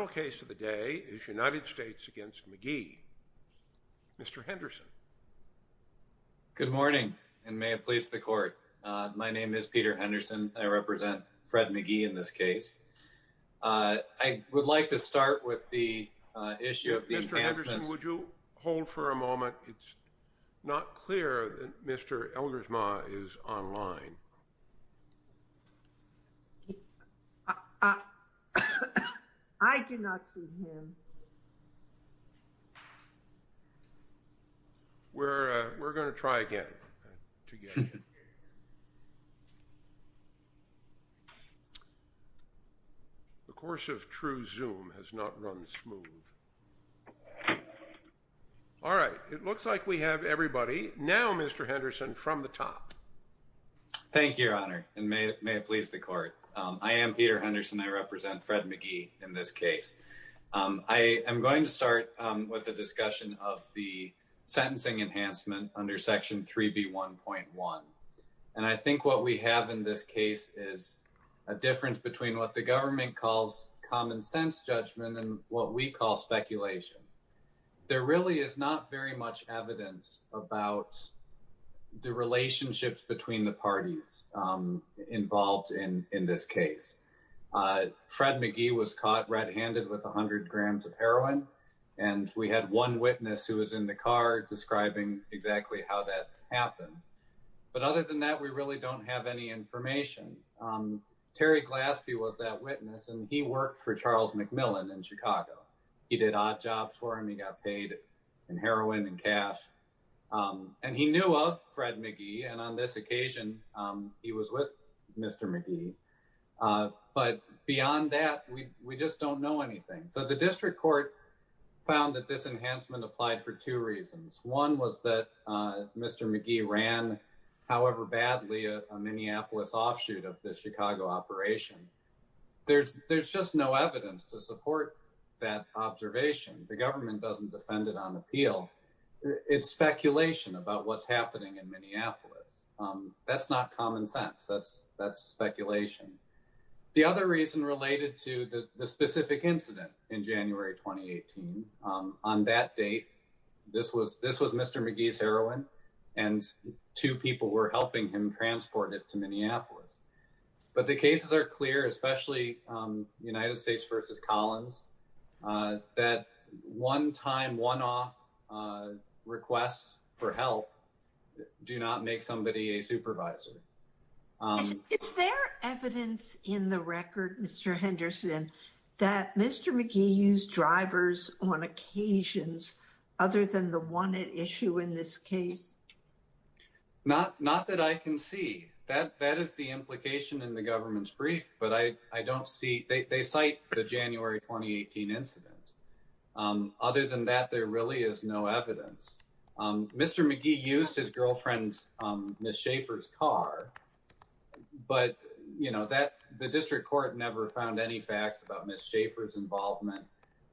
The final case of the day is United States v. McGee. Mr. Henderson. Good morning, and may it please the court. My name is Peter Henderson. I represent Fred McGee in this case. I would like to start with the issue of the... Mr. Henderson, would you hold for a moment? It's not clear that Mr. Eldersma is online. I do not see him. We're going to try again. The course of true Zoom has not run smooth. All right. It looks like we have everybody. Now, Mr. Henderson, from the top. Thank you, Your Honor, and may it please the court. I am Peter Henderson. I represent Fred McGee in this case. I am going to start with a discussion of the sentencing enhancement under Section 3B1.1. And I think what we have in this case is a difference between what the government calls common sense judgment and what we call speculation. There really is not very much evidence about the relationships between the parties involved in this case. Fred McGee was caught red-handed with 100 grams of heroin, and we had one witness who was in the car describing exactly how that happened. But other than that, we really don't have any information. Terry Glaspie was that witness, and he worked for Charles McMillan in Chicago. He did odd jobs for him. He got paid in heroin and cash. And he knew of Fred McGee, and on this occasion, he was with Mr. McGee. But beyond that, we just don't know anything. So the district court found that this enhancement applied for two reasons. One was that Mr. McGee ran, however badly, a Minneapolis offshoot of the Chicago operation. There's just no evidence to support that observation. The government doesn't defend it on appeal. It's speculation about what's happening in Minneapolis. That's not common sense. That's speculation. The other reason related to the specific incident in January 2018. On that date, this was Mr. McGee's heroin, and two people were helping him transport it to Minneapolis. But the cases are clear, especially United States v. Collins, that one-time, one-off requests for help do not make somebody a supervisor. Is there evidence in the record, Mr. Henderson, that Mr. McGee used drivers on occasions other than the one at issue in this case? Not that I can see. That is the implication in the government's brief, but I don't see. They cite the January 2018 incident. Other than that, there really is no evidence. Mr. McGee used his girlfriend's, Ms. Schaefer's car, but the district court never found any facts about Ms. Schaefer's involvement.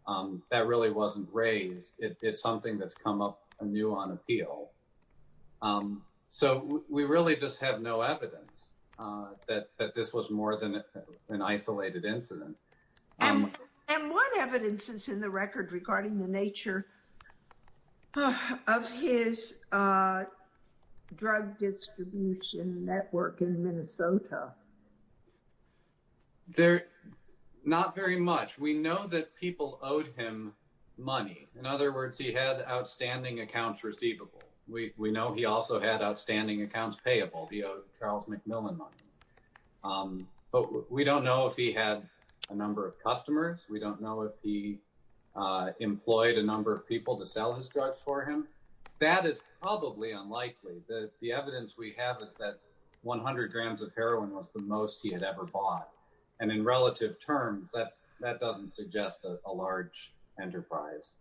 That really wasn't raised. It's something that's come up anew on appeal. So we really just have no evidence that this was more than an isolated incident. And what evidence is in the record regarding the nature of his drug distribution network in Minnesota? Not very much. We know that people owed him money. In other words, he had outstanding accounts receivable. We know he also had outstanding accounts payable. He owed Charles McMillan money. But we don't know if he had a number of customers. We don't know if he employed a number of people to sell his drugs for him. That is probably unlikely. The evidence we have is that 100 grams of heroin was the most he had ever bought. And in relative terms, that doesn't suggest a large enterprise.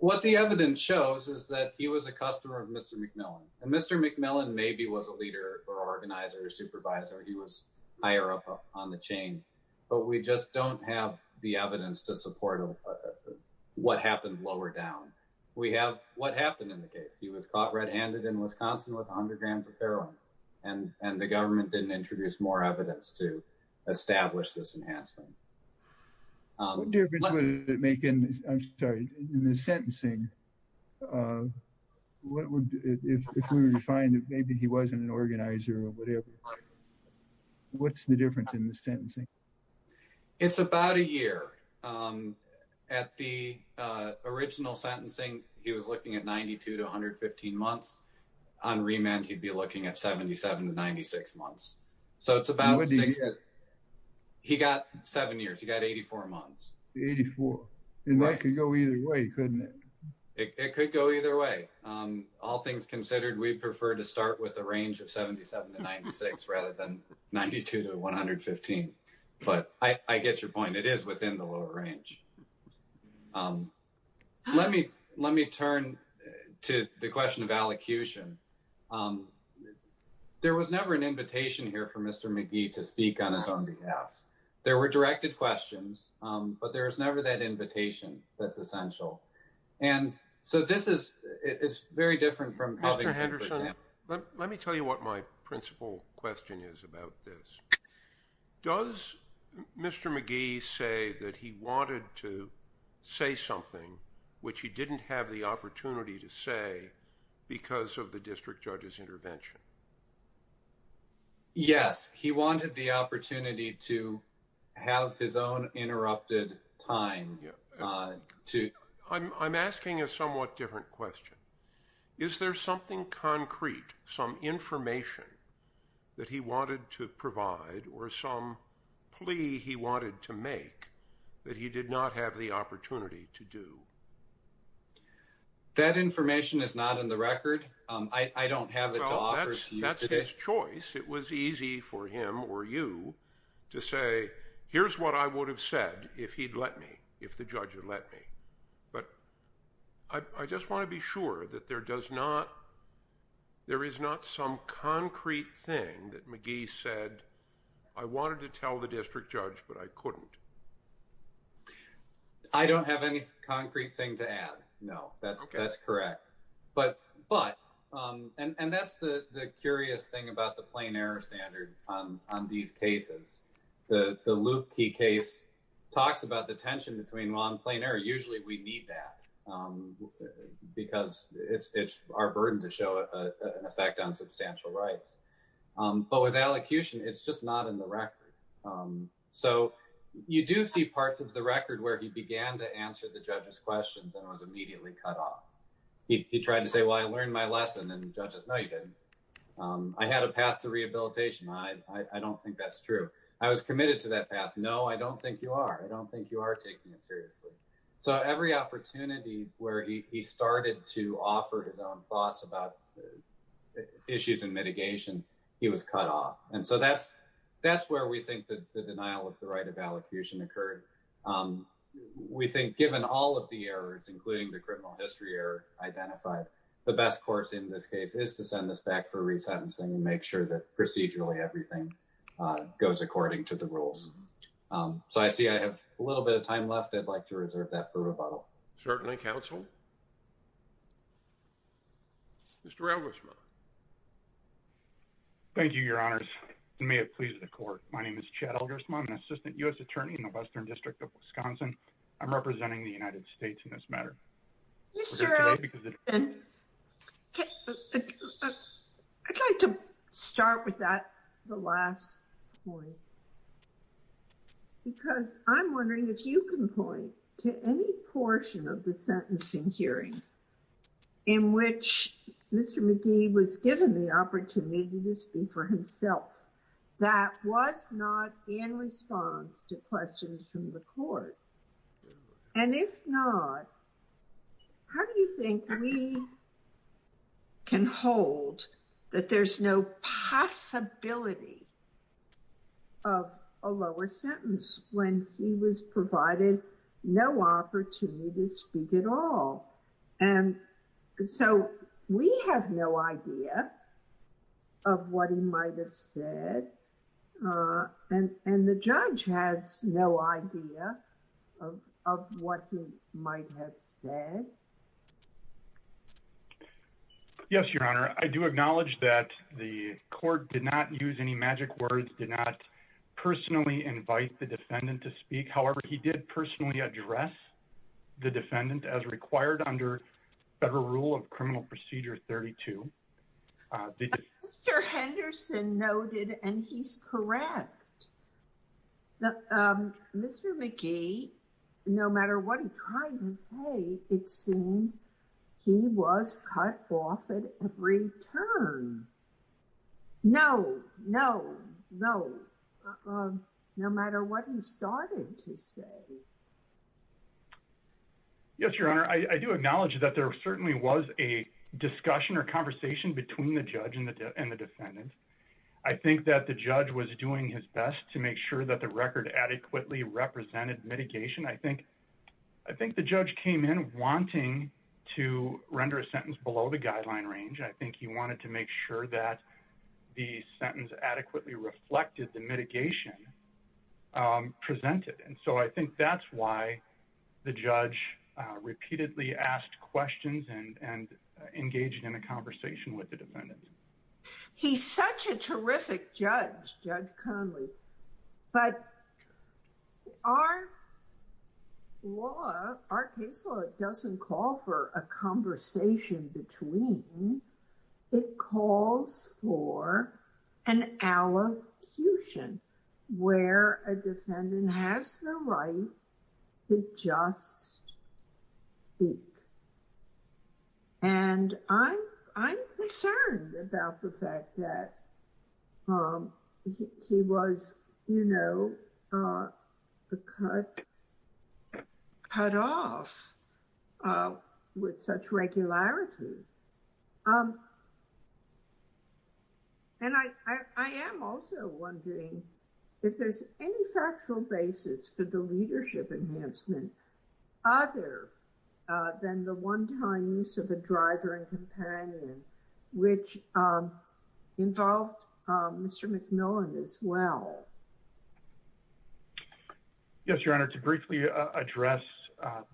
What the evidence shows is that he was a customer of Mr. McMillan. And Mr. McMillan maybe was a leader or organizer or supervisor. He was higher up on the chain. But we just don't have the evidence to support what happened lower down. We have what happened in the case. And the government didn't introduce more evidence to establish this enhancement. What difference would it make in the sentencing if we were to find that maybe he wasn't an organizer or whatever? What's the difference in the sentencing? It's about a year. At the original sentencing, he was looking at 92 to 115 months. On remand, he'd be looking at 77 to 96 months. So it's about 60. He got seven years. He got 84 months. 84. And that could go either way, couldn't it? It could go either way. All things considered, we prefer to start with a range of 77 to 96 rather than 92 to 115. But I get your point. It is within the lower range. Let me turn to the question of allocution. There was never an invitation here for Mr. McGee to speak on his own behalf. There were directed questions. But there was never that invitation that's essential. And so this is very different from how they would put it down. Mr. Henderson, let me tell you what my principal question is about this. Does Mr. McGee say that he wanted to say something which he didn't have the opportunity to say because of the district judge's intervention? Yes, he wanted the opportunity to have his own interrupted time. I'm asking a somewhat different question. Is there something concrete, some information that he wanted to provide or some plea he wanted to make that he did not have the opportunity to do? That information is not in the record. I don't have it. That's his choice. It was easy for him or you to say, here's what I would have said if he'd let me, if the judge had let me. But I just want to be sure that there is not some concrete thing that McGee said, I wanted to tell the district judge, but I couldn't. I don't have any concrete thing to add. No, that's correct. But, and that's the curious thing about the plain error standard on these cases. The Luke case talks about the tension between law and plain error. Usually we need that because it's our burden to show an effect on substantial rights. But with allocution, it's just not in the record. So you do see parts of the record where he began to answer the judge's questions and was immediately cut off. He tried to say, well, I learned my lesson. And judges, no, you didn't. I had a path to rehabilitation. I don't think that's true. I was committed to that path. No, I don't think you are. I don't think you are taking it seriously. So every opportunity where he started to offer his own thoughts about issues and mitigation, he was cut off. And so that's where we think the denial of the right of allocution occurred. We think given all of the errors, including the criminal history error identified, the best course in this case is to send this back for resentencing and make sure that procedurally everything goes according to the rules. So I see I have a little bit of time left. I'd like to reserve that for rebuttal. Certainly, counsel. Mr. Elgersman. Thank you, Your Honors. And may it please the Court. My name is Chad Elgersman. I'm an assistant U.S. attorney in the Western District of Wisconsin. I'm representing the United States in this matter. Mr. Elgersman, I'd like to start with that last point. Because I'm wondering if you can point to any portion of the sentencing hearing in which Mr. McGee was given the opportunity to speak for himself. That was not in response to questions from the Court. And if not, how do you think we can hold that there's no possibility of a lower sentence when he was provided no opportunity to speak at all? And so we have no idea of what he might have said. And the judge has no idea of what he might have said. Yes, Your Honor. I do acknowledge that the Court did not use any magic words, did not personally invite the defendant to speak. However, he did personally address the defendant as required under Federal Rule of Criminal Procedure 32. Mr. Henderson noted, and he's correct, that Mr. McGee, no matter what he tried to say, it seemed he was cut off at every turn. No, no, no. No matter what he started to say. Yes, Your Honor. I do acknowledge that there certainly was a discussion or conversation between the judge and the defendant. I think that the judge was doing his best to make sure that the record adequately represented mitigation. I think the judge came in wanting to render a sentence below the guideline range. I think he wanted to make sure that the sentence adequately reflected the mitigation presented. And so I think that's why the judge repeatedly asked questions and engaged in a conversation with the defendant. He's such a terrific judge, Judge Conley. But our case law doesn't call for a conversation between. It calls for an allocution where a defendant has the right to just speak. And I'm concerned about the fact that he was cut off with such regularity. And I am also wondering if there's any factual basis for the leadership enhancement other than the one-time use of a driver and companion, which involved Mr. McMillan as well. Yes, Your Honor. To briefly address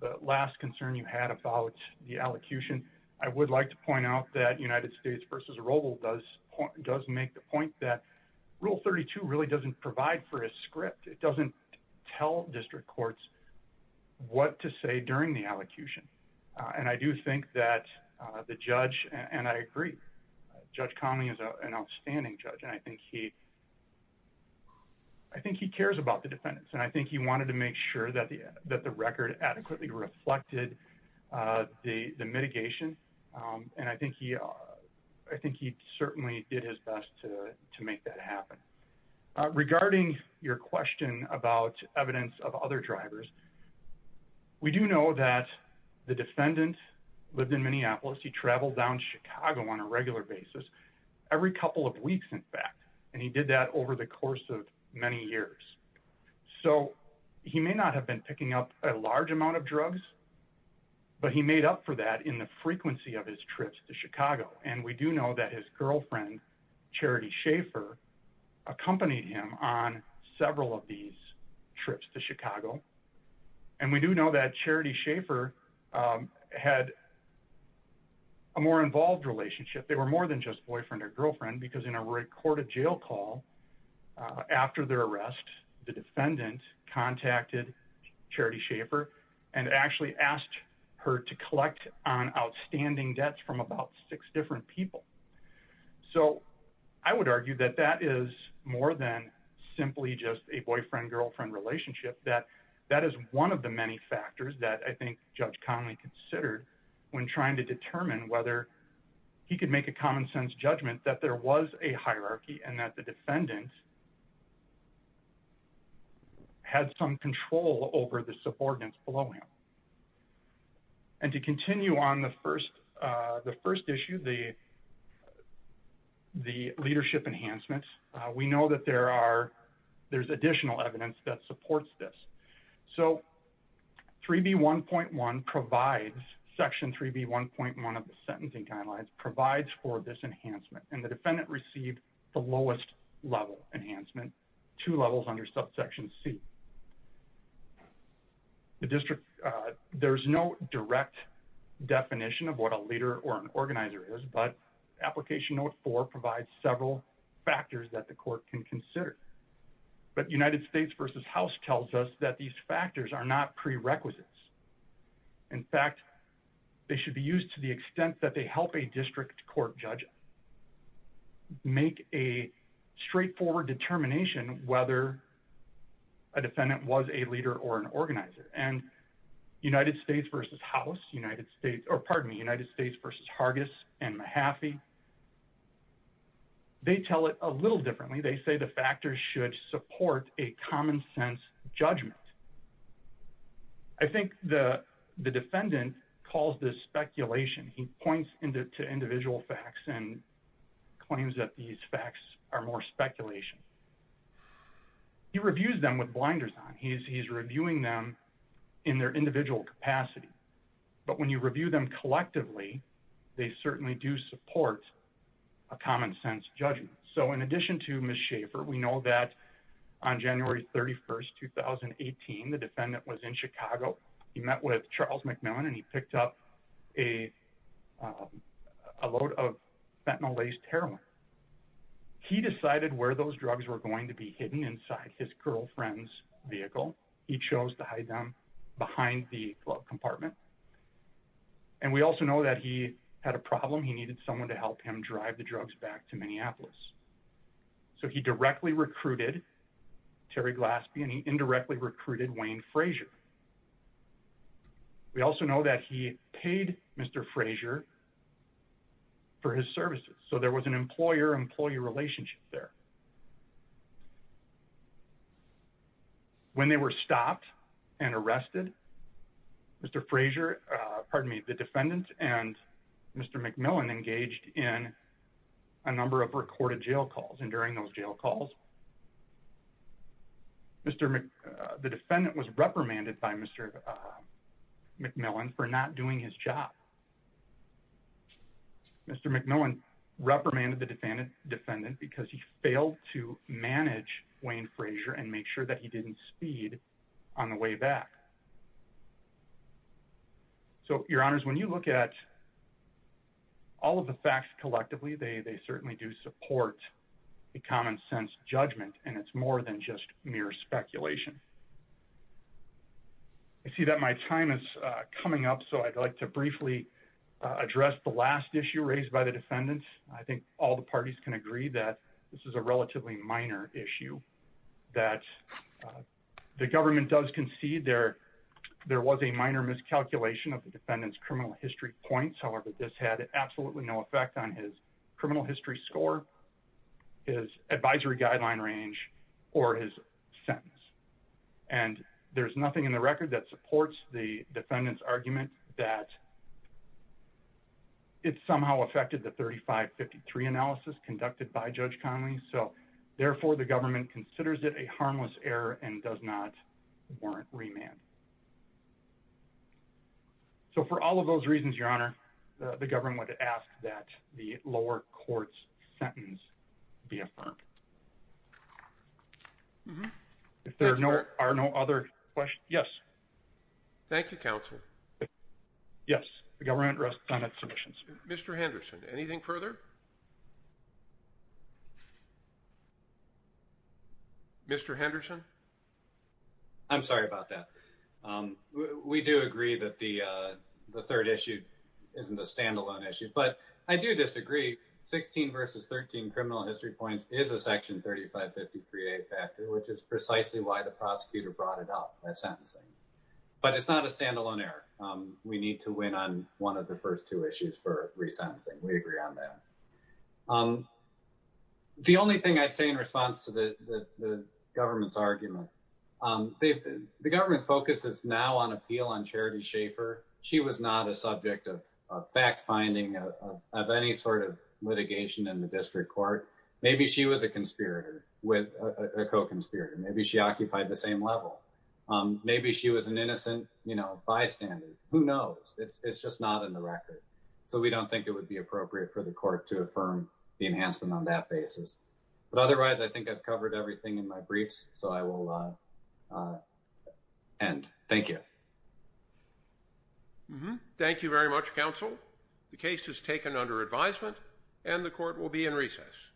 the last concern you had about the allocution, I would like to point out that United States v. Arrobo does make the point that Rule 32 really doesn't provide for a script. It doesn't tell district courts what to say during the allocution. And I do think that the judge, and I agree, Judge Conley is an outstanding judge, and I think he cares about the defendants. And I think he wanted to make sure that the record adequately reflected the mitigation. And I think he certainly did his best to make that happen. Regarding your question about evidence of other drivers, we do know that the defendant lived in Minneapolis. He traveled down to Chicago on a regular basis every couple of weeks, in fact. And he did that over the course of many years. So he may not have been picking up a large amount of drugs, but he made up for that in the frequency of his trips to Chicago. And we do know that his girlfriend, Charity Schaefer, accompanied him on several of these trips to Chicago. And we do know that Charity Schaefer had a more involved relationship. They were more than just boyfriend or girlfriend, because in a recorded jail call after their arrest, the defendant contacted Charity Schaefer and actually asked her to collect on outstanding debts from about six different people. So I would argue that that is more than simply just a boyfriend-girlfriend relationship, that that is one of the many factors that I think Judge Connolly considered when trying to determine whether he could make a common sense judgment that there was a hierarchy and that the defendant had some control over the subordinates below him. And to continue on the first issue, the leadership enhancements, we know that there's additional evidence that supports this. So Section 3B1.1 of the Sentencing Guidelines provides for this enhancement, and the defendant received the lowest level enhancement, two levels under subsection C. The district, there's no direct definition of what a leader or an organizer is, but Application Note 4 provides several factors that the court can consider. But United States v. House tells us that these factors are not prerequisites. In fact, they should be used to the extent that they help a district court make a straightforward determination whether a defendant was a leader or an organizer. And United States v. House, United States, or pardon me, United States v. Hargis and Mahaffey, they tell it a little differently. They say the factors should support a common sense judgment. I think the defendant calls this speculation. He points to individual facts and claims that these facts are more speculation. He reviews them with blinders on. He's reviewing them in their individual capacity. But when you review them collectively, they certainly do support a common sense judgment. So in addition to Ms. Schaffer, we know that on January 31st, 2018, the defendant was in Chicago. He met with Charles McMillan and he picked up a load of fentanyl-laced heroin. He decided where those drugs were going to be hidden inside his girlfriend's vehicle. He chose to hide them behind the glove compartment. And we also know that he had a problem. He needed someone to help him drive the drugs back to Minneapolis. So he directly recruited Terry Glaspie and he indirectly recruited Wayne Frazier. We also know that he paid Mr. Frazier for his services. So there was an employer-employee relationship there. When they were stopped and arrested, Mr. Frazier, pardon me, the defendant and Mr. McMillan engaged in a number of recorded jail calls. And during those jail calls, the defendant was reprimanded by Mr. McMillan for not doing his job. Mr. McMillan reprimanded the defendant because he failed to manage Wayne Frazier and make sure that he didn't speed on the way back. So, Your Honors, when you look at all of the facts collectively, they certainly do support a common-sense judgment. And it's more than just mere speculation. I see that my time is coming up, so I'd like to briefly address the last issue raised by the defendants. I think all the parties can agree that this is a relatively minor issue, that the government does concede there was a minor miscalculation of the defendant's criminal history points. I don't want to tell her that this had absolutely no effect on his criminal history score, his advisory guideline range, or his sentence. And there's nothing in the record that supports the defendant's argument that it somehow affected the 3553 analysis conducted by Judge Connolly. So, therefore, the government considers it a harmless error and does not warrant remand. So, for all of those reasons, Your Honor, the government asked that the lower court's sentence be affirmed. If there are no other questions, yes. Thank you, Counsel. Yes, the government rests on its submissions. Mr. Henderson, anything further? Mr. Henderson? I'm sorry about that. We do agree that the third issue isn't a standalone issue. But I do disagree. 16 versus 13 criminal history points is a Section 3553A factor, which is precisely why the prosecutor brought it up, that sentencing. But it's not a standalone error. We need to win on one of the first two issues for resentencing. We agree on that. The only thing I'd say in response to the government's argument, the government focuses now on appeal on Charity Schaefer. She was not a subject of fact-finding of any sort of litigation in the district court. Maybe she was a conspirator, a co-conspirator. Maybe she occupied the same level. Maybe she was an innocent bystander. Who knows? It's just not in the record. So we don't think it would be appropriate for the court to affirm the enhancement on that basis. But otherwise, I think I've covered everything in my briefs. So I will end. Thank you. Thank you very much, counsel. The case is taken under advisement and the court will be in recess.